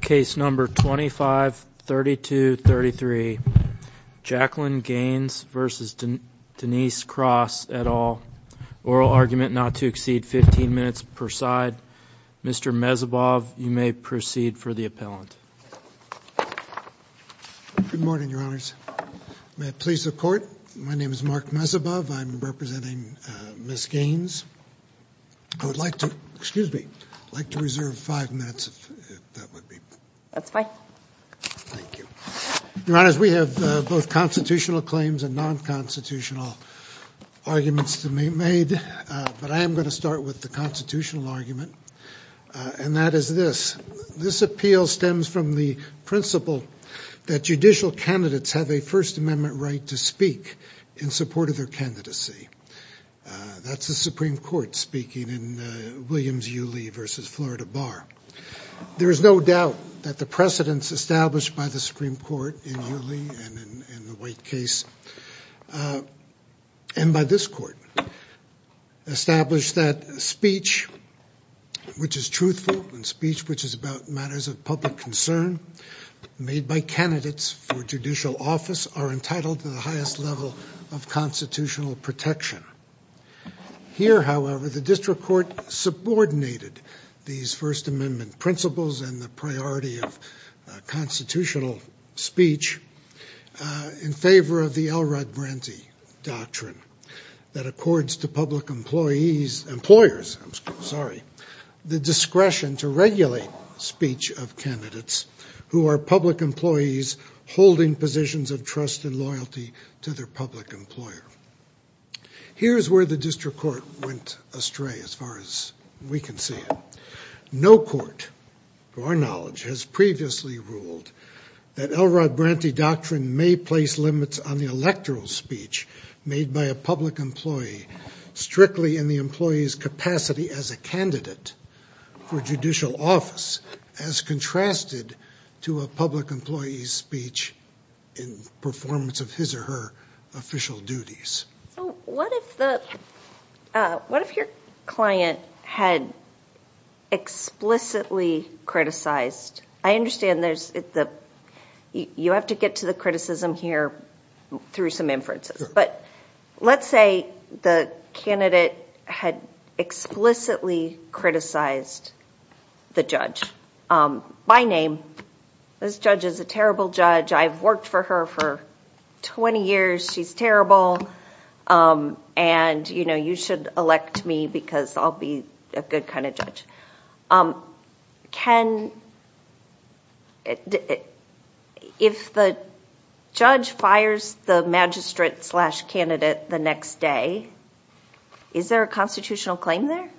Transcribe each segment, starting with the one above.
Case number 25-3233, Jacqueline Gaines v. Denise Cross, et al., oral argument not to exceed 15 minutes per side. Mr. Mezebov, you may proceed for the appellant. Good morning, Your Honors. May it please the Court, my name is Mark Mezebov, I'm representing Ms. Gaines, I would like to, excuse me, I'd like to reserve five minutes, if that would be. That's fine. Thank you. Your Honors, we have both constitutional claims and non-constitutional arguments to be made, but I am going to start with the constitutional argument, and that is this. This appeal stems from the principle that judicial candidates have a First Amendment right to speak in support of their candidacy. That's the Supreme Court speaking in Williams-Uley v. Florida Bar. There is no doubt that the precedence established by the Supreme Court in Uley and in the White case, and by this Court, established that speech, which is truthful, and speech which is about matters of public concern, made by candidates for judicial office, are entitled to the highest level of constitutional protection. Here, however, the District Court subordinated these First Amendment principles and the priority of constitutional speech, in favor of the Elrod Branty Doctrine, that accords to public employees, employers, I'm sorry, the discretion to regulate speech of candidates who are public employees, holding positions of trust and loyalty to their public employer. Here's where the District Court went astray, as far as we can see. No court, to our knowledge, has previously ruled that Elrod Branty Doctrine may place limits on the electoral speech made by a public employee, strictly in the employee's capacity as a candidate for judicial office, as contrasted to a public employee's speech in performance of his or her official duties. What if your client had explicitly criticized, I understand you have to get to the criticism here through some inferences, but let's say the candidate had explicitly criticized the judge by name, this judge is a terrible judge, I've worked for her for 20 years, she's terrible, and you should elect me because I'll be a good kind of judge. If the judge fires the magistrate slash candidate the next day, is there a constitutional claim there?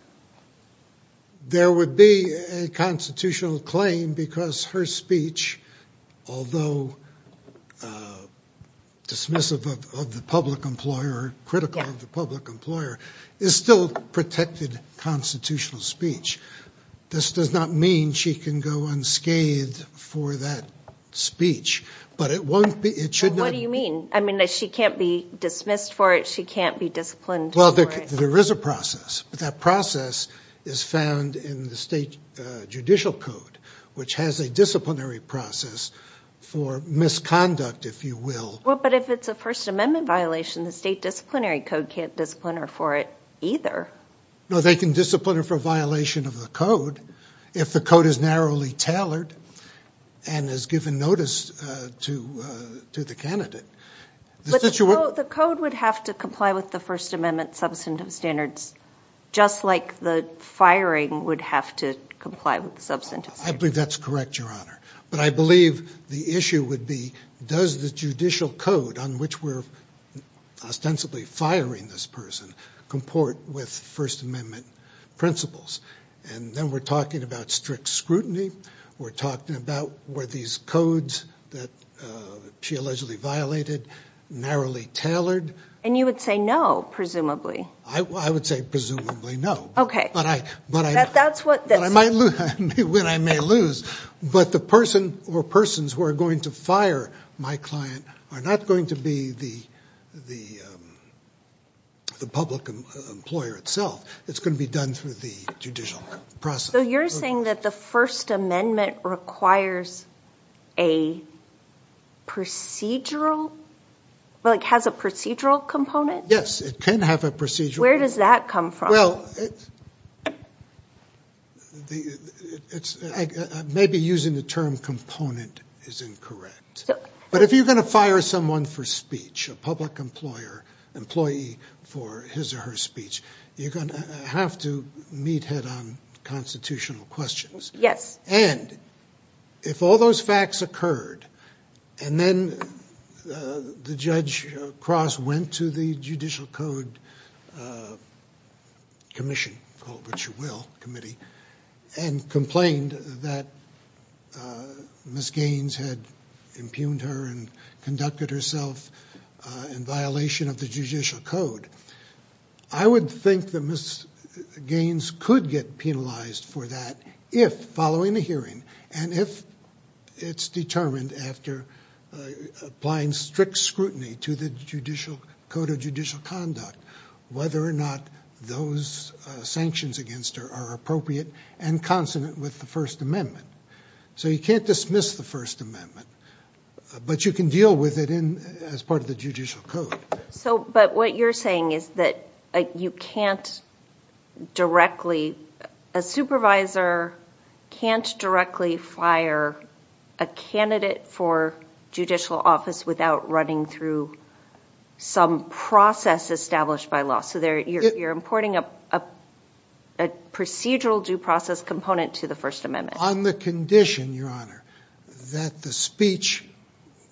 There would be a constitutional claim because her speech, although dismissive of the public employer, critical of the public employer, is still protected constitutional speech. This does not mean she can go unscathed for that speech, but it won't be, it should not... What do you mean? I mean, she can't be dismissed for it, she can't be disciplined for it. Well, there is a process, but that process is found in the state judicial code, which has a disciplinary process for misconduct, if you will. But if it's a First Amendment violation, the state disciplinary code can't discipline her for it either. No, they can discipline her for a violation of the code if the code is narrowly tailored and has given notice to the candidate. The code would have to comply with the First Amendment substantive standards just like the firing would have to comply with the substantive standards. I believe that's correct, Your Honor. But I believe the issue would be, does the judicial code on which we're ostensibly firing this person comport with First Amendment principles? And then we're talking about strict scrutiny, we're talking about were these codes that she allegedly violated narrowly tailored? And you would say no, presumably. I would say presumably no. But I might lose, when I may lose, but the person or persons who are going to fire my client are not going to be the public employer itself. It's going to be done through the judicial process. So you're saying that the First Amendment requires a procedural, like has a procedural component? Yes, it can have a procedural component. Where does that come from? Well, maybe using the term component is incorrect. But if you're going to fire someone for speech, a public employer, employee for his or her speech, you're going to have to meet head-on constitutional questions. Yes. And if all those facts occurred, and then the judge across went to the judicial code commission, called what you will committee, and complained that Ms. Gaines had impugned her and conducted herself in violation of the judicial code, I would think that Ms. Gaines could get penalized for that if, following the hearing, and if it's determined after applying strict scrutiny to the judicial code of judicial conduct, whether or not those sanctions against her are appropriate and consonant with the First Amendment. So you can't dismiss the First Amendment, but you can deal with it as part of the judicial code. So, but what you're saying is that you can't directly, a supervisor can't directly fire a candidate for judicial office without running through some process established by law. So you're importing a procedural due process component to the First Amendment. On the condition, Your Honor, that the speech,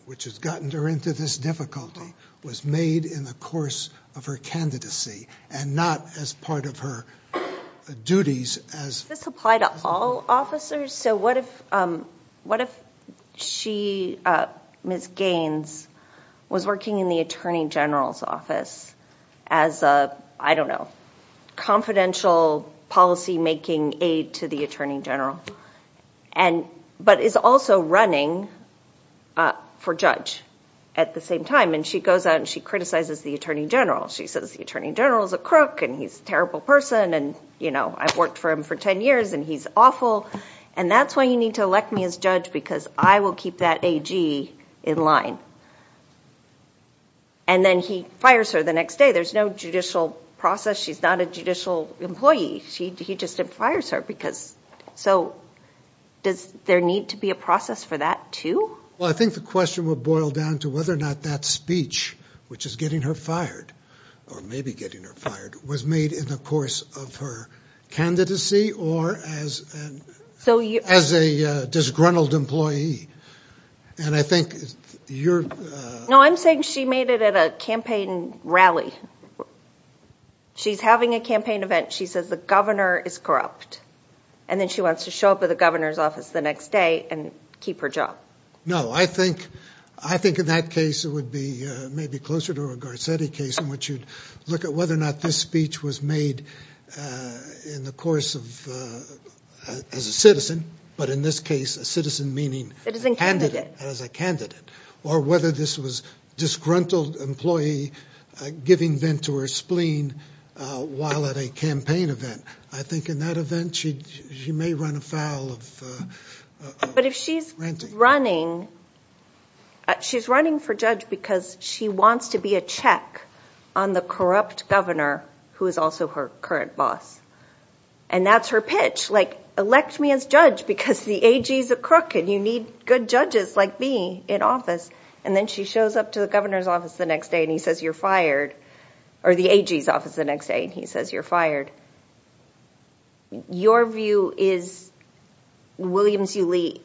which has gotten her into this difficulty, was made in the course of her candidacy, and not as part of her duties as- Does this apply to all officers? So what if she, Ms. Gaines, was working in the Attorney General's office as a, I don't know, confidential policy-making aide to the Attorney General, but is also running for judge at the same time, and she goes out and she criticizes the Attorney General. She says, the Attorney General is a crook, and he's a terrible person, and I've worked for him for 10 years, and he's awful, and that's why you need to elect me as judge because I will keep that AG in line. And then he fires her the next day. There's no judicial process. She's not a judicial employee. He just fires her because, so does there need to be a process for that too? Well, I think the question would boil down to whether or not that speech, which is getting her fired, or maybe getting her fired, was made in the course of her candidacy or as a disgruntled employee. And I think you're- No, I'm saying she made it at a campaign rally. She's having a campaign event. She says the governor is corrupt, and then she wants to show up at the governor's office the next day and keep her job. No, I think in that case it would be maybe closer to a Garcetti case in which you'd look at whether or not this speech was made in the course of, as a citizen, but in this case a citizen meaning a candidate, as a candidate, or whether this was disgruntled employee giving vent to her spleen while at a campaign event. I think in that event she may run afoul of- But if she's running, she's running for judge because she wants to be a check on the corrupt governor who is also her current boss. And that's her pitch, like elect me as judge because the AG's a crook and you need good judges like me in office. And then she shows up to the governor's office the next day and he says you're fired, or the AG's office the next day and he says you're fired. Your view is William Hsiu-Li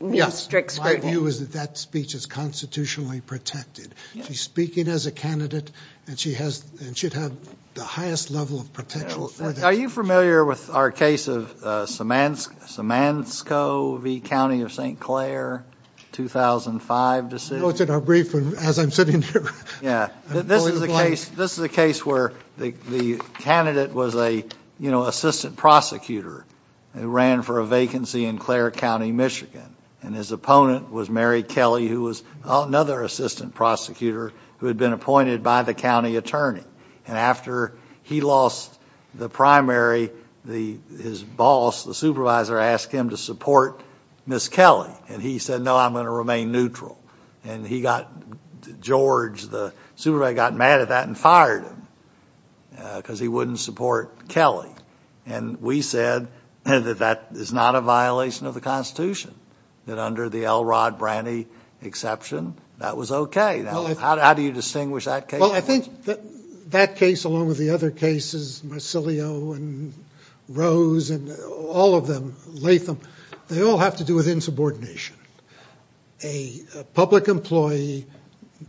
means strict scrutiny. Yes, my view is that that speech is constitutionally protected. She's speaking as a candidate and she has, and should have the highest level of protection. Are you familiar with our case of Samanskow v. County of St. Clair, 2005 decision? No, it's in our brief as I'm sitting here. This is a case where the candidate was an assistant prosecutor who ran for a vacancy in Clare County, Michigan. And his opponent was Mary Kelly who was another assistant prosecutor who had been appointed by the county attorney. And after he lost the primary, his boss, the supervisor, asked him to support Ms. Kelly and he said no I'm going to remain neutral. And he got, George, the supervisor, got mad at that and fired him because he wouldn't support Kelly. And we said that that is not a violation of the Constitution. That under the L. Rod Branny exception, that was okay. Now how do you distinguish that case? Well I think that case along with the other cases, Massilio and Rose and all of them, Latham, they all have to do with insubordination. A public employee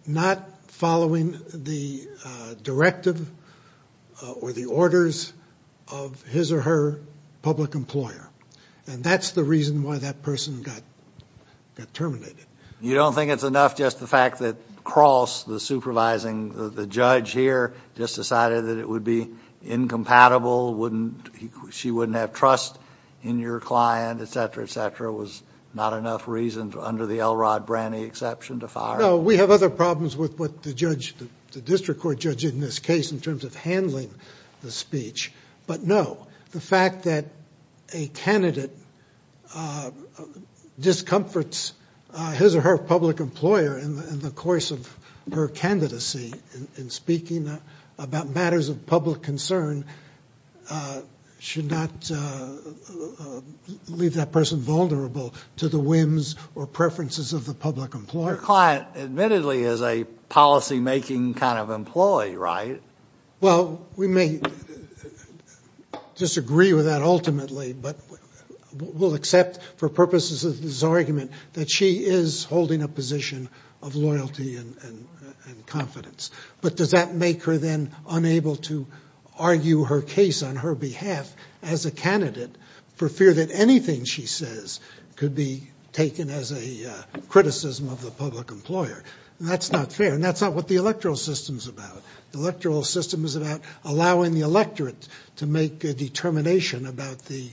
not following the directive or the orders of his or her public employer. And that's the reason why that person got terminated. You don't think it's enough just the fact that Cross, the supervising, the judge here just decided that it would be incompatible, she wouldn't have trust in your client, etc., etc., was not enough reason under the L. Rod Branny exception to fire him? No, we have other problems with what the judge, the district court judge in this case in terms of handling the speech. But no, the fact that a candidate discomforts his or her public employer in the course of her candidacy in speaking about matters of public concern should not leave that person vulnerable to the whims or preferences of the public employer. Your client admittedly is a policymaking kind of employee, right? Well we may disagree with that ultimately, but we'll accept for purposes of this argument that she is holding a position of loyalty and confidence. But does that make her then unable to argue her case on her behalf as a candidate for fear that anything she says could be taken as a criticism of the public employer? That's not fair. And that's not what the electoral system is about. The electoral system is about allowing the electorate to make a determination about the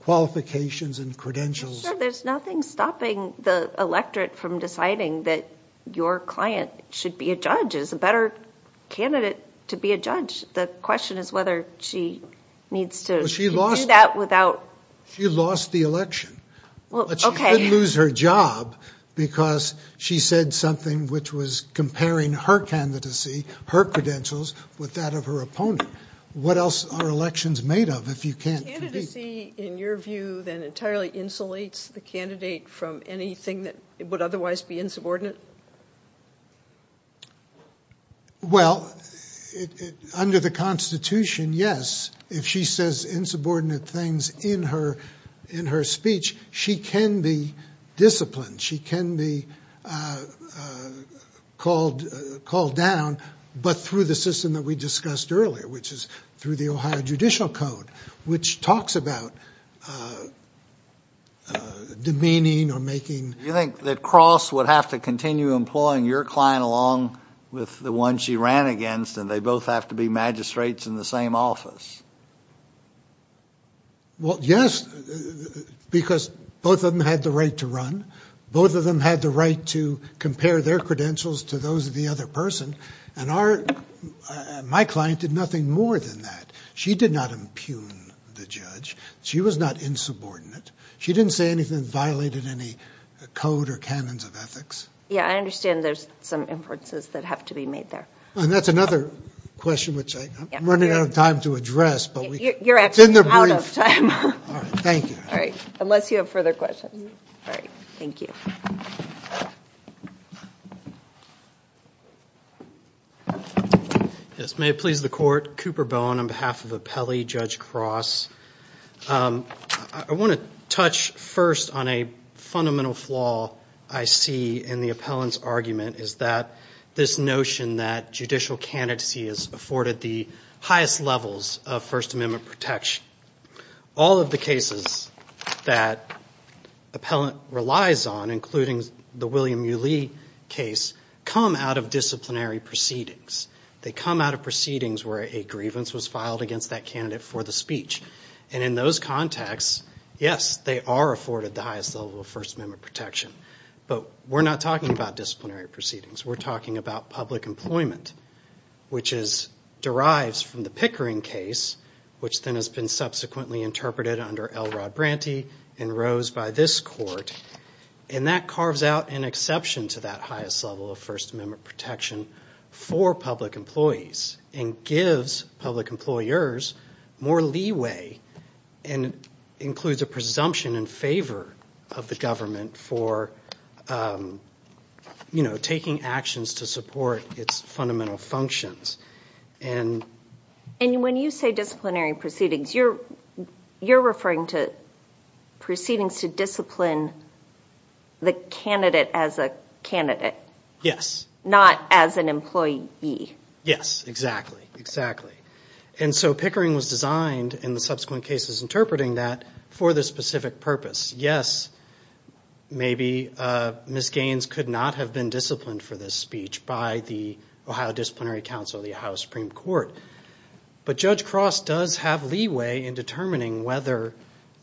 qualifications and credentials. Sure, there's nothing stopping the electorate from deciding that your client should be a judge is a better candidate to be a judge. The question is whether she needs to do that without... She lost the election. Well, okay. But she didn't lose her job because she said something which was comparing her candidacy, her credentials with that of her opponent. What else are elections made of if you can't... Do you see, in your view, that entirely insulates the candidate from anything that would otherwise be insubordinate? Well, under the Constitution, yes. If she says insubordinate things in her speech, she can be disciplined. She can be called down. But through the system that we discussed earlier, which is through the Ohio Judicial Code, which talks about demeaning or making... You think that Cross would have to continue employing your client along with the one she ran against, and they both have to be magistrates in the same office? Well, yes, because both of them had the right to run. Both of them had the right to compare their credentials to those of the other person. And my client did nothing more than that. She did not impugn the judge. She was not insubordinate. She didn't say anything that violated any code or canons of ethics. Yeah, I understand there's some inferences that have to be made there. And that's another question which I'm running out of time to address, but we... You're actually out of time. All right, thank you. All right, unless you have further questions. All right, thank you. Yes, may it please the Court. I'm Robert Cooper-Bowen on behalf of Appellee Judge Cross. I want to touch first on a fundamental flaw I see in the appellant's argument, is that this notion that judicial candidacy is afforded the highest levels of First Amendment protection. All of the cases that appellant relies on, including the William U. Lee case, come out of disciplinary proceedings. They come out of proceedings where a grievance was filed against that candidate for the speech. And in those contexts, yes, they are afforded the highest level of First Amendment protection. But we're not talking about disciplinary proceedings. We're talking about public employment, which derives from the Pickering case, which then has been subsequently interpreted under L. Rod Branty and rose by this Court. And that carves out an exception to that highest level of First Amendment protection for public employees and gives public employers more leeway and includes a presumption in favor of the government for, you know, taking actions to support its fundamental functions. And when you say disciplinary proceedings, you're referring to proceedings to discipline the candidate as a candidate, not as an employee. Yes, exactly, exactly. And so Pickering was designed, in the subsequent cases interpreting that, for this specific purpose. Yes, maybe Ms. Gaines could not have been disciplined for this speech by the Ohio Disciplinary Council, the Ohio Supreme Court. But Judge Cross does have leeway in determining whether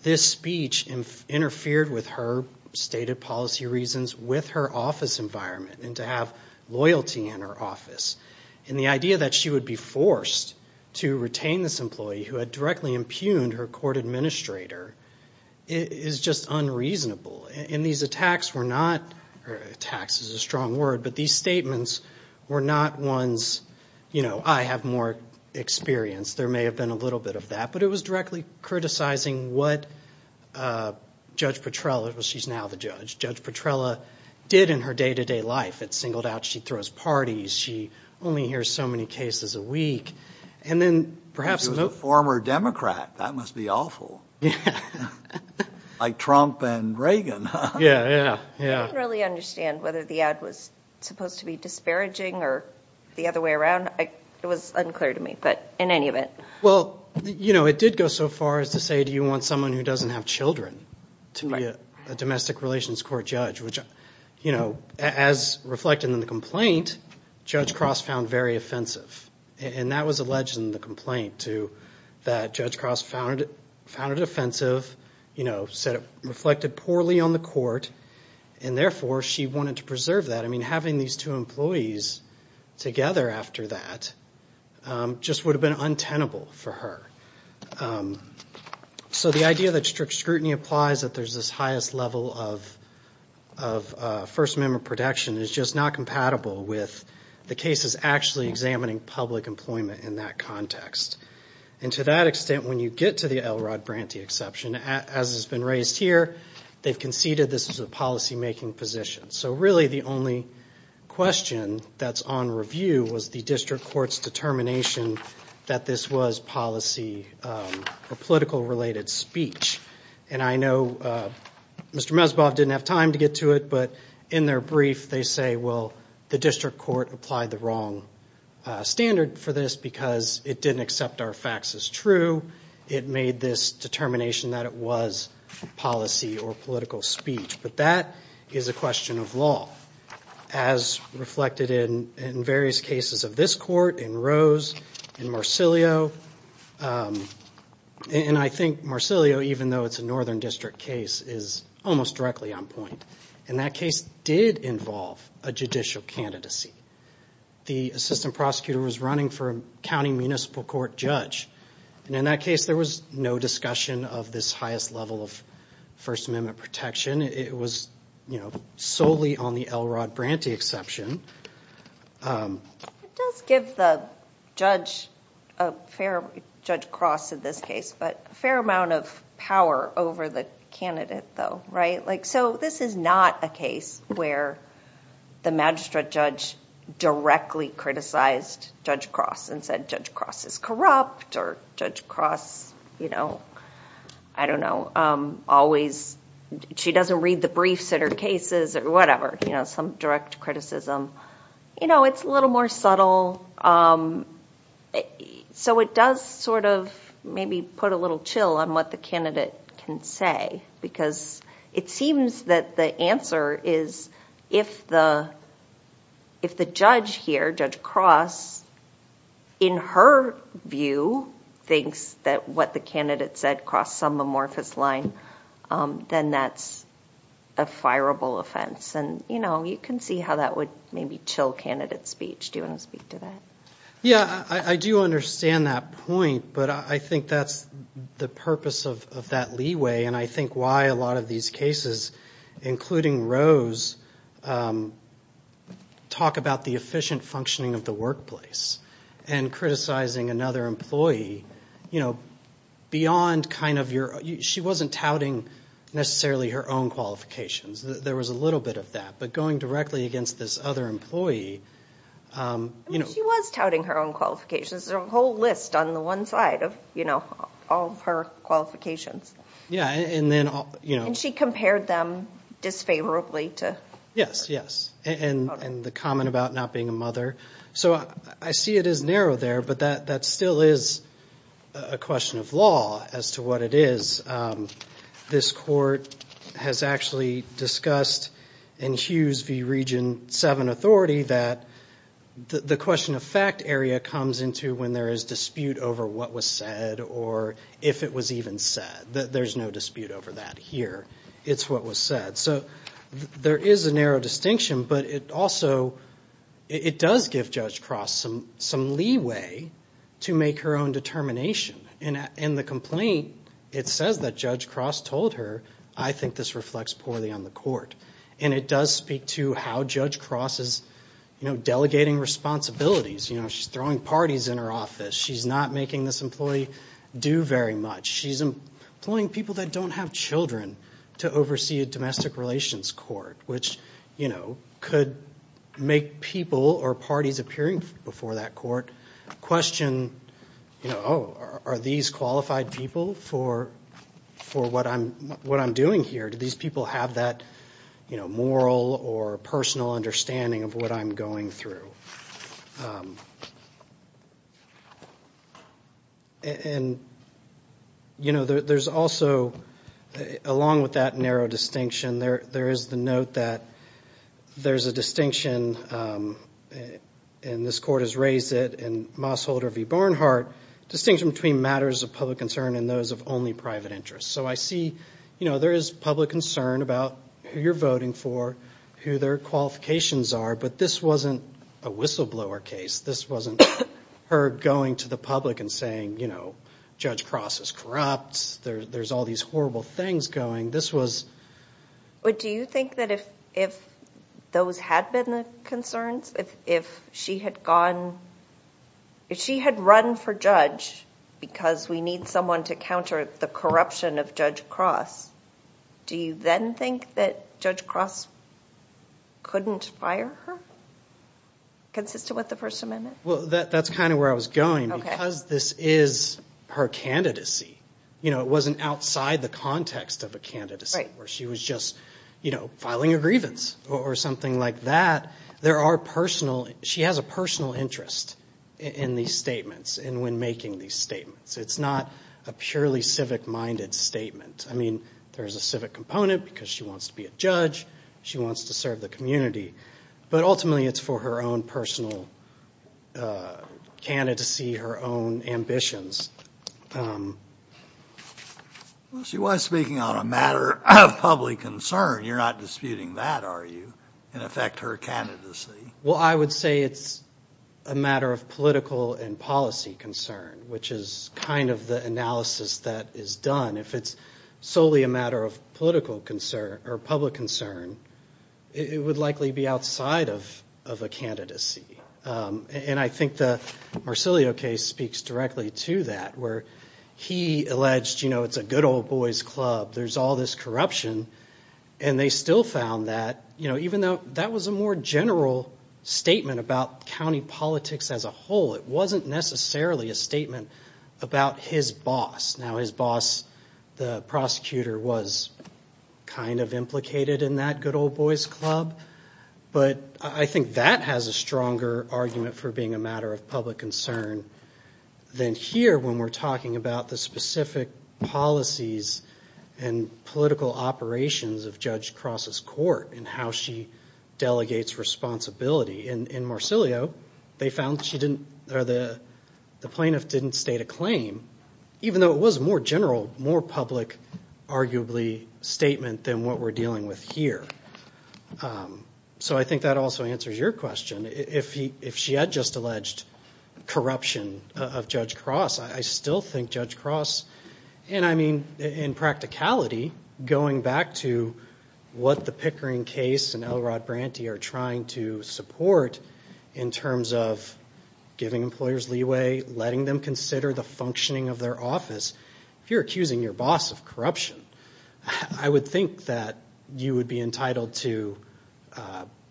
this speech interfered with her stated policy reasons with her office environment and to have loyalty in her office. And the idea that she would be forced to retain this employee who had directly impugned her court administrator is just unreasonable. And these attacks were not, attacks is a strong word, but these statements were not ones, you know, I have more experience. There may have been a little bit of that, but it was directly criticizing what Judge Petrella, she's now the judge, Judge Petrella did in her day-to-day life at Singled Out. She throws parties. She only hears so many cases a week. And then perhaps... She was a former Democrat. That must be awful, like Trump and Reagan, huh? Yeah, yeah, yeah. I didn't really understand whether the ad was supposed to be disparaging or the other way around. It was unclear to me, but in any event... Well, you know, it did go so far as to say, do you want someone who doesn't have children to be a domestic relations court judge, which, you know, as reflected in the complaint, Judge Cross found very offensive. And that was alleged in the complaint, too, that Judge Cross found it offensive, you know, said it reflected poorly on the court, and therefore she wanted to preserve that. I mean, having these two employees together after that just would have been untenable for her. So the idea that strict scrutiny applies, that there's this highest level of First Amendment protection is just not compatible with the cases actually examining public employment in that context. And to that extent, when you get to the Elrod Branty exception, as has been raised here, they've conceded this is a policymaking position. So really the only question that's on review was the district court's determination that this was policy or political-related speech. And I know Mr. Mezbov didn't have time to get to it, but in their brief they say, well, the district court applied the wrong standard for this because it didn't accept our facts as true. It made this determination that it was policy or political speech. But that is a question of law, as reflected in various cases of this court, in Rose, in Marcillio. And I think Marcillio, even though it's a Northern District case, is almost directly on point. And that case did involve a judicial candidacy. The assistant prosecutor was running for a county municipal court judge. And in that case, there was no discussion of this highest level of First Amendment protection. It was solely on the Elrod Branty exception. It does give the judge a fair, Judge Cross in this case, but a fair amount of power over the candidate though, right? So this is not a case where the magistrate judge directly criticized Judge Cross and said Judge Cross is corrupt or Judge Cross, I don't know, always, she doesn't read the briefs in her cases or whatever, some direct criticism. It's a little more subtle. So it does sort of maybe put a little chill on what the candidate can say, because it seems that the answer is, if the judge here, Judge Cross, in her view, thinks that what the candidate said crossed some amorphous line, then that's a fireable offense. And you can see how that would maybe chill candidate speech. Do you want to speak to that? Yeah, I do understand that point, but I think that's the purpose of that leeway. And I think why a lot of these cases, including Rose, talk about the efficient functioning of the workplace and criticizing another employee, you know, beyond kind of your, she wasn't touting necessarily her own qualifications. There was a little bit of that. But going directly against this other employee, you know. She was touting her own qualifications. There's a whole list on the one side of, you know, all of her qualifications. Yeah. And then, you know. And she compared them disfavorably to. Yes, yes. And the comment about not being a mother. So I see it is narrow there, but that still is a question of law as to what it is. This court has actually discussed in Hughes v. Region 7 authority that the question of fact area comes into when there is dispute over what was said or if it was even said. There's no dispute over that here. It's what was said. So there is a narrow distinction, but it also, it does give Judge Cross some leeway to make her own determination. And in the complaint, it says that Judge Cross told her, I think this reflects poorly on the court. And it does speak to how Judge Cross is, you know, delegating responsibilities. You know, she's throwing parties in her office. She's not making this employee do very much. She's employing people that don't have children to oversee a domestic relations court, which, you know, could make people or parties appearing before that court question. You know, oh, are these qualified people for what I'm doing here? Do these people have that, you know, moral or personal understanding of what I'm going through? And, you know, there's also, along with that narrow distinction, there is the note that there's a distinction, and this court has raised it, in Moss Holder v. Barnhart, distinction between matters of public concern and those of only private interest. So I see, you know, there is public concern about who you're voting for, who their qualifications are, but this wasn't a whistleblower case. This wasn't her going to the public and saying, you know, Judge Cross is corrupt. There's all these horrible things going. This was... But do you think that if those had been the concerns, if she had gone, if she had run for judge because we need someone to counter the corruption of Judge Cross, do you then think that Judge Cross couldn't fire her, consistent with the First Amendment? Well, that's kind of where I was going, because this is her candidacy. You know, it wasn't outside the context of a candidacy where she was just, you know, filing a grievance or something like that. There are personal... She has a personal interest in these statements and when making these statements. It's not a purely civic-minded statement. I mean, there's a civic component because she wants to be a judge. She wants to serve the community. But ultimately, it's for her own personal candidacy, her own ambitions. Well, she was speaking on a matter of public concern. You're not disputing that, are you, in effect, her candidacy? Well, I would say it's a matter of political and policy concern, which is kind of the analysis that is done. If it's solely a matter of political concern or public concern, it would likely be outside of a candidacy. And I think the Marsilio case speaks directly to that, where he alleged, you know, it's a good old boys club. There's all this corruption. And they still found that, you know, even though that was a more general statement about county politics as a whole, it wasn't necessarily a statement about his boss. Now, his boss, the prosecutor, was kind of implicated in that good old boys club. But I think that has a stronger argument for being a matter of public concern than here, when we're talking about the specific policies and political operations of Judge Cross's court and how she delegates responsibility. In Marsilio, they found that she didn't, or the plaintiff didn't state a claim, even though it was a more general, more public, arguably, statement than what we're dealing with here. So I think that also answers your question. If she had just alleged corruption of Judge Cross, I still think Judge Cross, and I mean in practicality, going back to what the Pickering case and L. Rod Branty are trying to support in terms of giving employers leeway, letting them consider the functioning of their office. If you're accusing your boss of corruption, I would think that you would be entitled to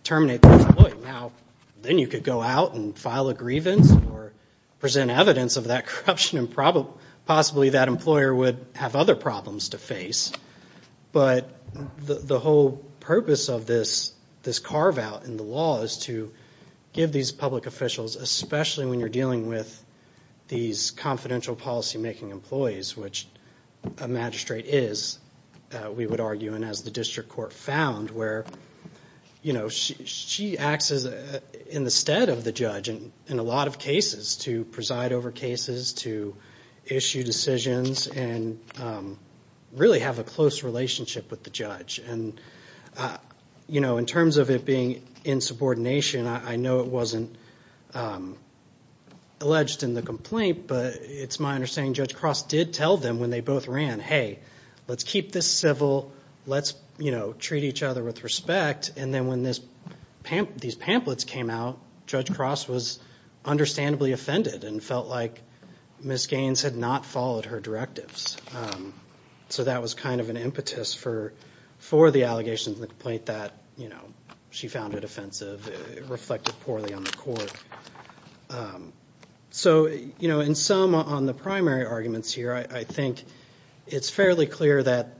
terminate that employee. Now, then you could go out and file a grievance or present evidence of that corruption, and possibly that employer would have other problems to face. But the whole purpose of this carve-out in the law is to give these public officials, especially when you're dealing with these confidential policy-making employees, which a magistrate is, we would argue, and as the district court found, where she acts in the stead of the judge in a lot of cases to preside over cases, to issue decisions, and really have a close relationship with the judge. And in terms of it being insubordination, I know it wasn't alleged in the complaint, but it's my understanding Judge Cross did tell them when they both ran, hey, let's keep this civil, let's treat each other with respect, and then when these pamphlets came out, Judge Cross was understandably offended and felt like Ms. Gaines had not followed her directives. So that was kind of an impetus for the allegations in the complaint that she found it offensive, reflected poorly on the court. So in sum, on the primary arguments here, I think it's fairly clear that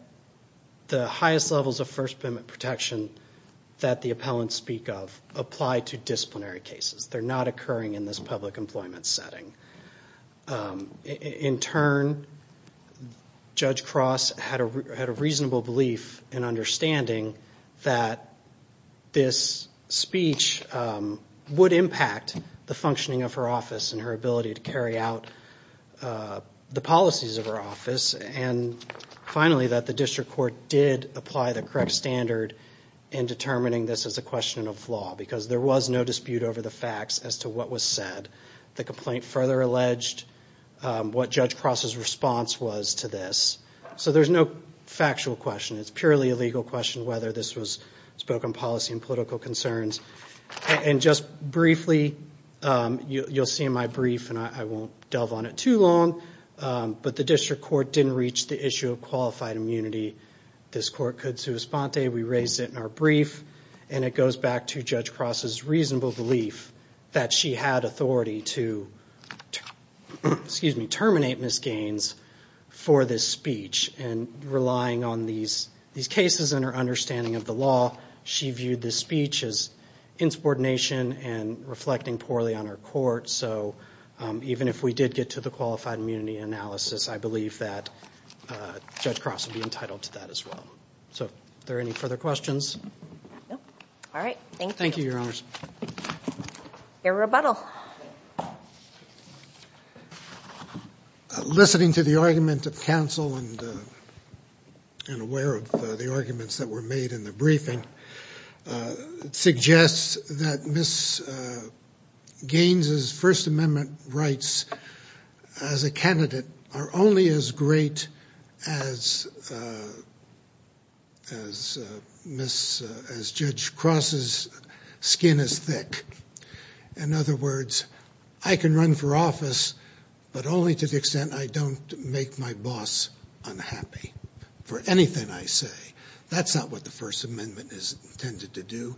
the highest levels of First Amendment protection that the appellants speak of apply to disciplinary cases. They're not occurring in this public employment setting. In turn, Judge Cross had a reasonable belief and understanding that this speech would impact the functioning of her office and her ability to carry out the policies of her office. And finally, that the district court did apply the correct standard in determining this as a question of law, because there was no dispute over the facts as to what was said. The complaint further alleged what Judge Cross's response was to this. So there's no factual question. It's purely a legal question whether this was spoken policy and political concerns. And just briefly, you'll see in my brief, and I won't delve on it too long, but the district court didn't reach the issue of qualified immunity. This court could sui sponte. We raised it in our brief. And it goes back to Judge Cross's reasonable belief that she had authority to, excuse me, terminate Ms. Gaines for this speech. And relying on these cases and her understanding of the law, she viewed this speech as insubordination and reflecting poorly on her court. So even if we did get to the qualified immunity analysis, I believe that Judge Cross would be entitled to that as well. So are there any further questions? All right, thank you. Thank you, Your Honors. Your rebuttal. Listening to the argument of counsel and aware of the arguments that were made in the briefing suggests that Ms. Gaines's First Amendment rights as a candidate are only as great as Ms. As Judge Cross's skin is thick. In other words, I can run for office, but only to the extent I don't make my boss unhappy for anything I say. That's not what the First Amendment is intended to do.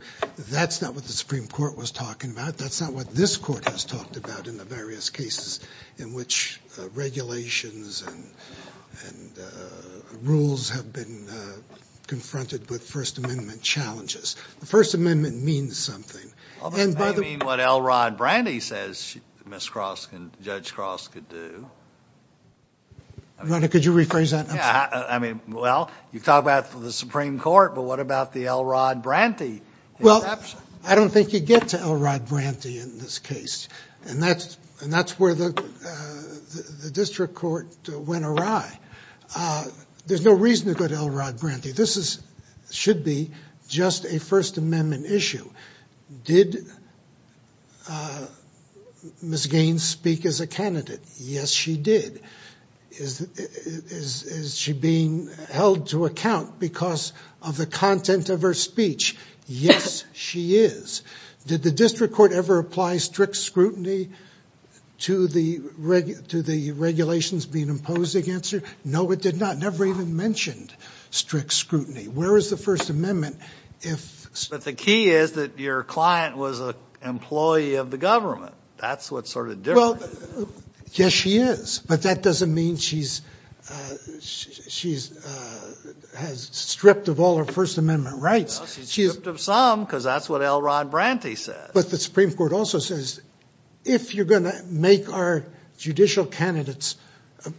That's not what the Supreme Court was talking about. That's not what this court has talked about in the various cases in which regulations and rules have been confronted with First Amendment challenges. The First Amendment means something. I mean, what L. Rod Branty says Ms. Cross and Judge Cross could do. Could you rephrase that? I mean, well, you talk about the Supreme Court, but what about the L. Rod Branty? Well, I don't think you get to L. Rod Branty in this case. And that's where the district court went awry. There's no reason to go to L. Rod Branty. This should be just a First Amendment issue. Did Ms. Gaines speak as a candidate? Yes, she did. Is she being held to account because of the content of her speech? Yes, she is. Did the district court ever apply strict scrutiny to the regulations being imposed against her? No, it did not. Never even mentioned strict scrutiny. Where is the First Amendment if- But the key is that your client was an employee of the government. That's what's sort of different. Yes, she is. But that doesn't mean she has stripped of all her First Amendment rights. She's stripped of some, because that's what L. Rod Branty said. But the Supreme Court also says, if you're going to make our judicial candidates,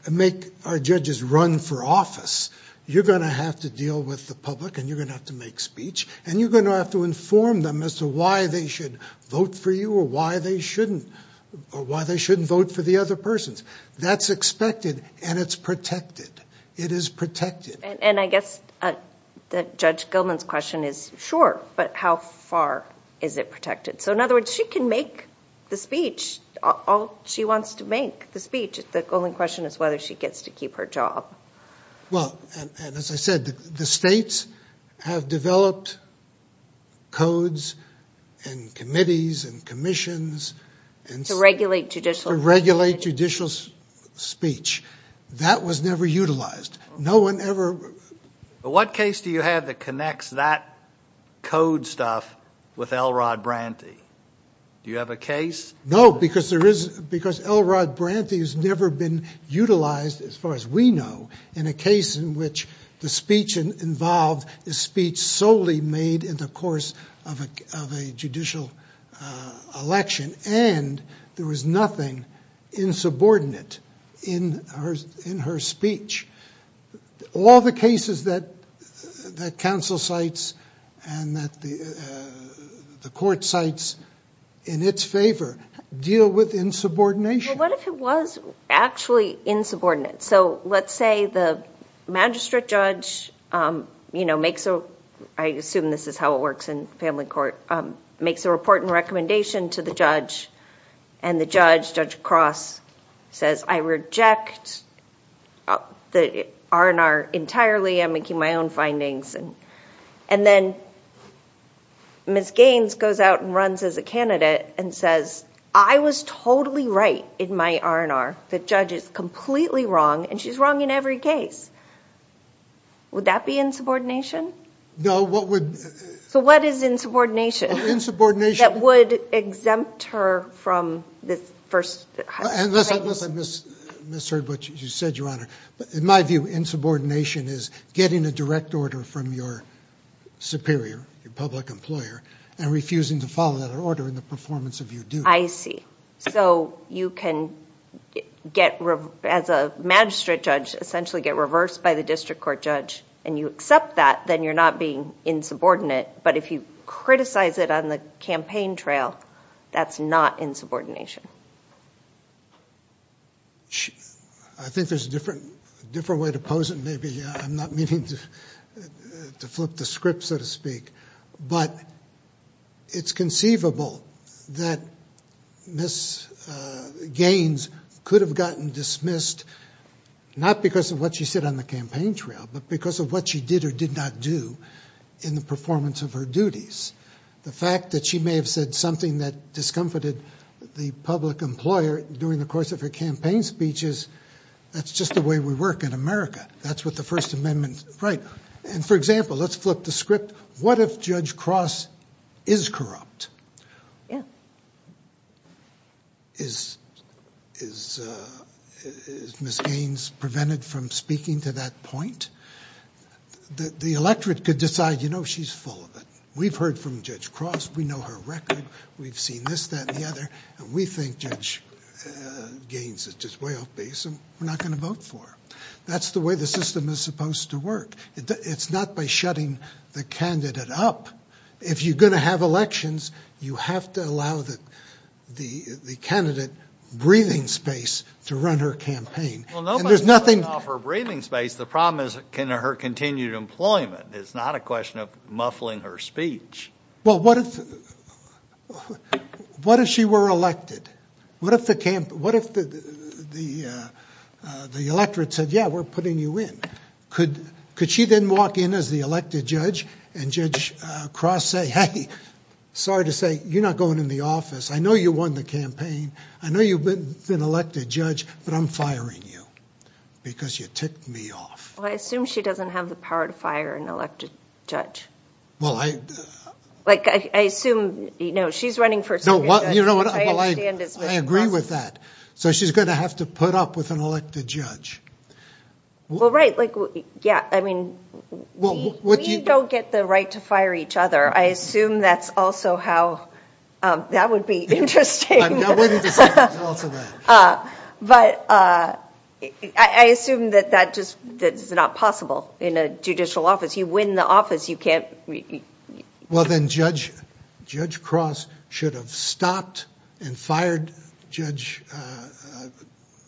make our judges run for office, you're going to have to deal with the public. And you're going to have to make speech. And you're going to have to inform them as to why they should vote for you, or why they shouldn't vote for the other persons. That's expected, and it's protected. It is protected. And I guess that Judge Gilman's question is, sure, but how far is it protected? So in other words, she can make the speech, all she wants to make the speech. The only question is whether she gets to keep her job. Well, and as I said, the states have developed codes and committees and commissions to regulate judicial speech. That was never utilized. No one ever. What case do you have that connects that code stuff with L. Rod Branty? Do you have a case? No, because L. Rod Branty has never been utilized, as far as we know, in a case in which the speech involved is speech solely made in the course of a judicial election. And there was nothing insubordinate in her speech. All the cases that counsel cites and that the court cites in its favor deal with insubordination. Well, what if it was actually insubordinate? So let's say the magistrate judge makes a, I assume this is how it works in family court, makes a report and recommendation to the judge. And the judge, Judge Cross, says, I reject the R&R entirely. I'm making my own findings. And then Ms. Gaines goes out and runs as a candidate and says, I was totally right in my R&R. The judge is completely wrong, and she's wrong in every case. Would that be insubordination? No, what would? So what is insubordination? Insubordination. That would exempt her from the first. Unless I misheard what you said, Your Honor. But in my view, insubordination is getting a direct order from your superior, your public employer, and refusing to follow that order in the performance of your duty. I see. So you can, as a magistrate judge, essentially get reversed by the district court judge. And you accept that, then you're not being insubordinate. But if you criticize it on the campaign trail, that's not insubordination. I think there's a different way to pose it, maybe. I'm not meaning to flip the script, so to speak. But it's conceivable that Ms. Gaines could have gotten dismissed, not because of what she said on the campaign trail, but because of what she did or did not do in the performance of her duties. The fact that she may have said something that discomfited the public employer during the course of her campaign speech is, that's just the way we work in America. That's what the First Amendment's right. And for example, let's flip the script. What if Judge Cross is corrupt? Yeah. Is Ms. Gaines prevented from speaking to that point? The electorate could decide, you know, she's full of it. We've heard from Judge Cross. We know her record. We've seen this, that, and the other. And we think Judge Gaines is just way off base, and we're not going to vote for her. That's the way the system is supposed to work. It's not by shutting the candidate up. If you're going to have elections, you have to allow the candidate breathing space to run her campaign. Well, nobody's going to offer breathing space. The problem is, can her continue employment? It's not a question of muffling her speech. Well, what if she were elected? What if the electorate said, yeah, we're putting you in? Could she then walk in as the elected judge, and Judge Cross say, hey, sorry to say, you're not going in the office. I know you won the campaign. I know you've been elected judge, but I'm firing you because you ticked me off. Well, I assume she doesn't have the power to fire an elected judge. Well, I... Like, I assume, you know, she's running for... No, well, you know what, well, I agree with that. So she's going to have to put up with an elected judge. Well, right, like, yeah. I mean, we don't get the right to fire each other. I assume that's also how... That would be interesting. That wouldn't be... But I assume that that just is not possible in a judicial office. You win the office, you can't... Well, then Judge Cross should have stopped and fired Judge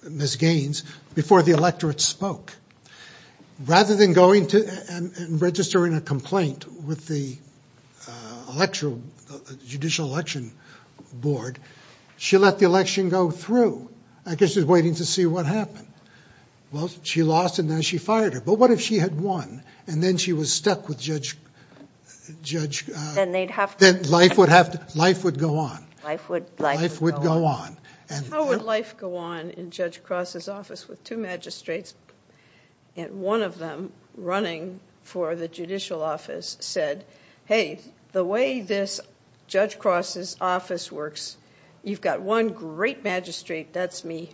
Ms. Gaines before the electorate spoke. Rather than going and registering a complaint with the judicial election board, she let the election go through. I guess she was waiting to see what happened. Well, she lost and then she fired her. But what if she had won and then she was stuck with Judge... Then they'd have to... Then life would go on. Life would go on. How would life go on in Judge Cross's office with two magistrates and one of them running for the judicial office said, hey, the way this Judge Cross's office works, you've got one great magistrate, that's me,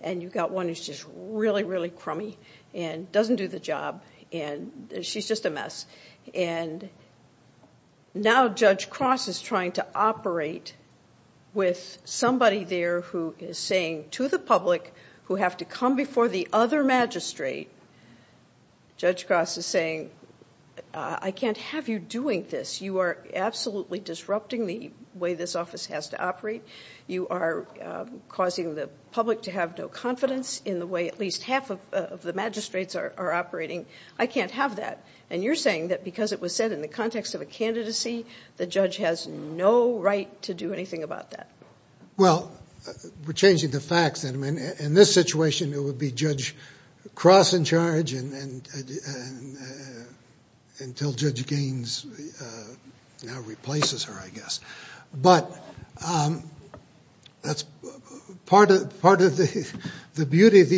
and you've got one who's just really, really crummy and doesn't do the job and she's just a mess. And now Judge Cross is trying to operate with somebody there who is saying to the public who have to come before the other magistrate, Judge Cross is saying, I can't have you doing this. You are absolutely disrupting the way this office has to operate. You are causing the public to have no confidence in the way at least half of the magistrates are operating. I can't have that. And you're saying that because it was said in the context of a candidacy, the judge has no right to do anything about that. Well, we're changing the facts. And I mean, in this situation, it would be Judge Cross in charge until Judge Gaines now replaces her, I guess. But that's part of the beauty of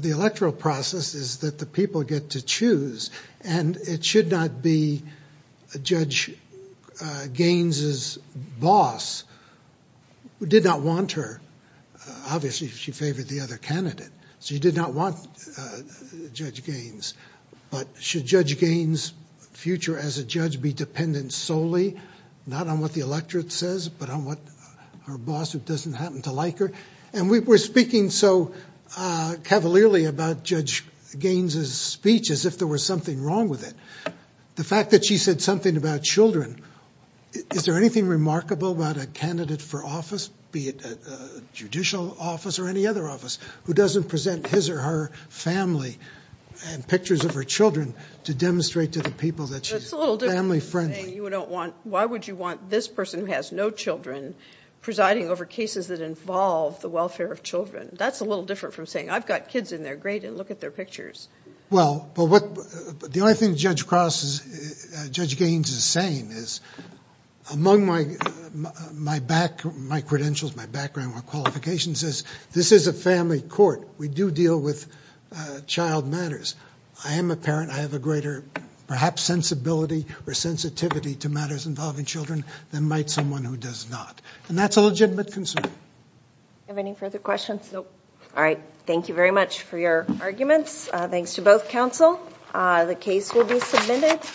the electoral process is that the people get to choose and it should not be Judge Gaines's boss who did not want her. Obviously, she favored the other candidate. She did not want Judge Gaines. But should Judge Gaines' future as a judge be dependent solely, not on what the electorate says, but on what her boss who doesn't happen to like her? And we were speaking so cavalierly about Judge Gaines's speech as if there was something wrong with it. The fact that she said something about children, is there anything remarkable about a candidate for office, be it a judicial office or any other office, who doesn't present his or her family and pictures of her children to demonstrate to the people that she's family friendly? Why would you want this person who has no children presiding over cases that involve the welfare of children? That's a little different from saying, I've got kids in their grade and look at their pictures. Well, the only thing Judge Gaines is saying is among my credentials, my background, my qualifications is this is a family court. We do deal with child matters. I am a parent. I have a greater, perhaps, sensibility or sensitivity to matters involving children than might someone who does not. And that's a legitimate concern. Do you have any further questions? Nope. All right, thank you very much for your arguments. Thanks to both counsel. The case will be submitted.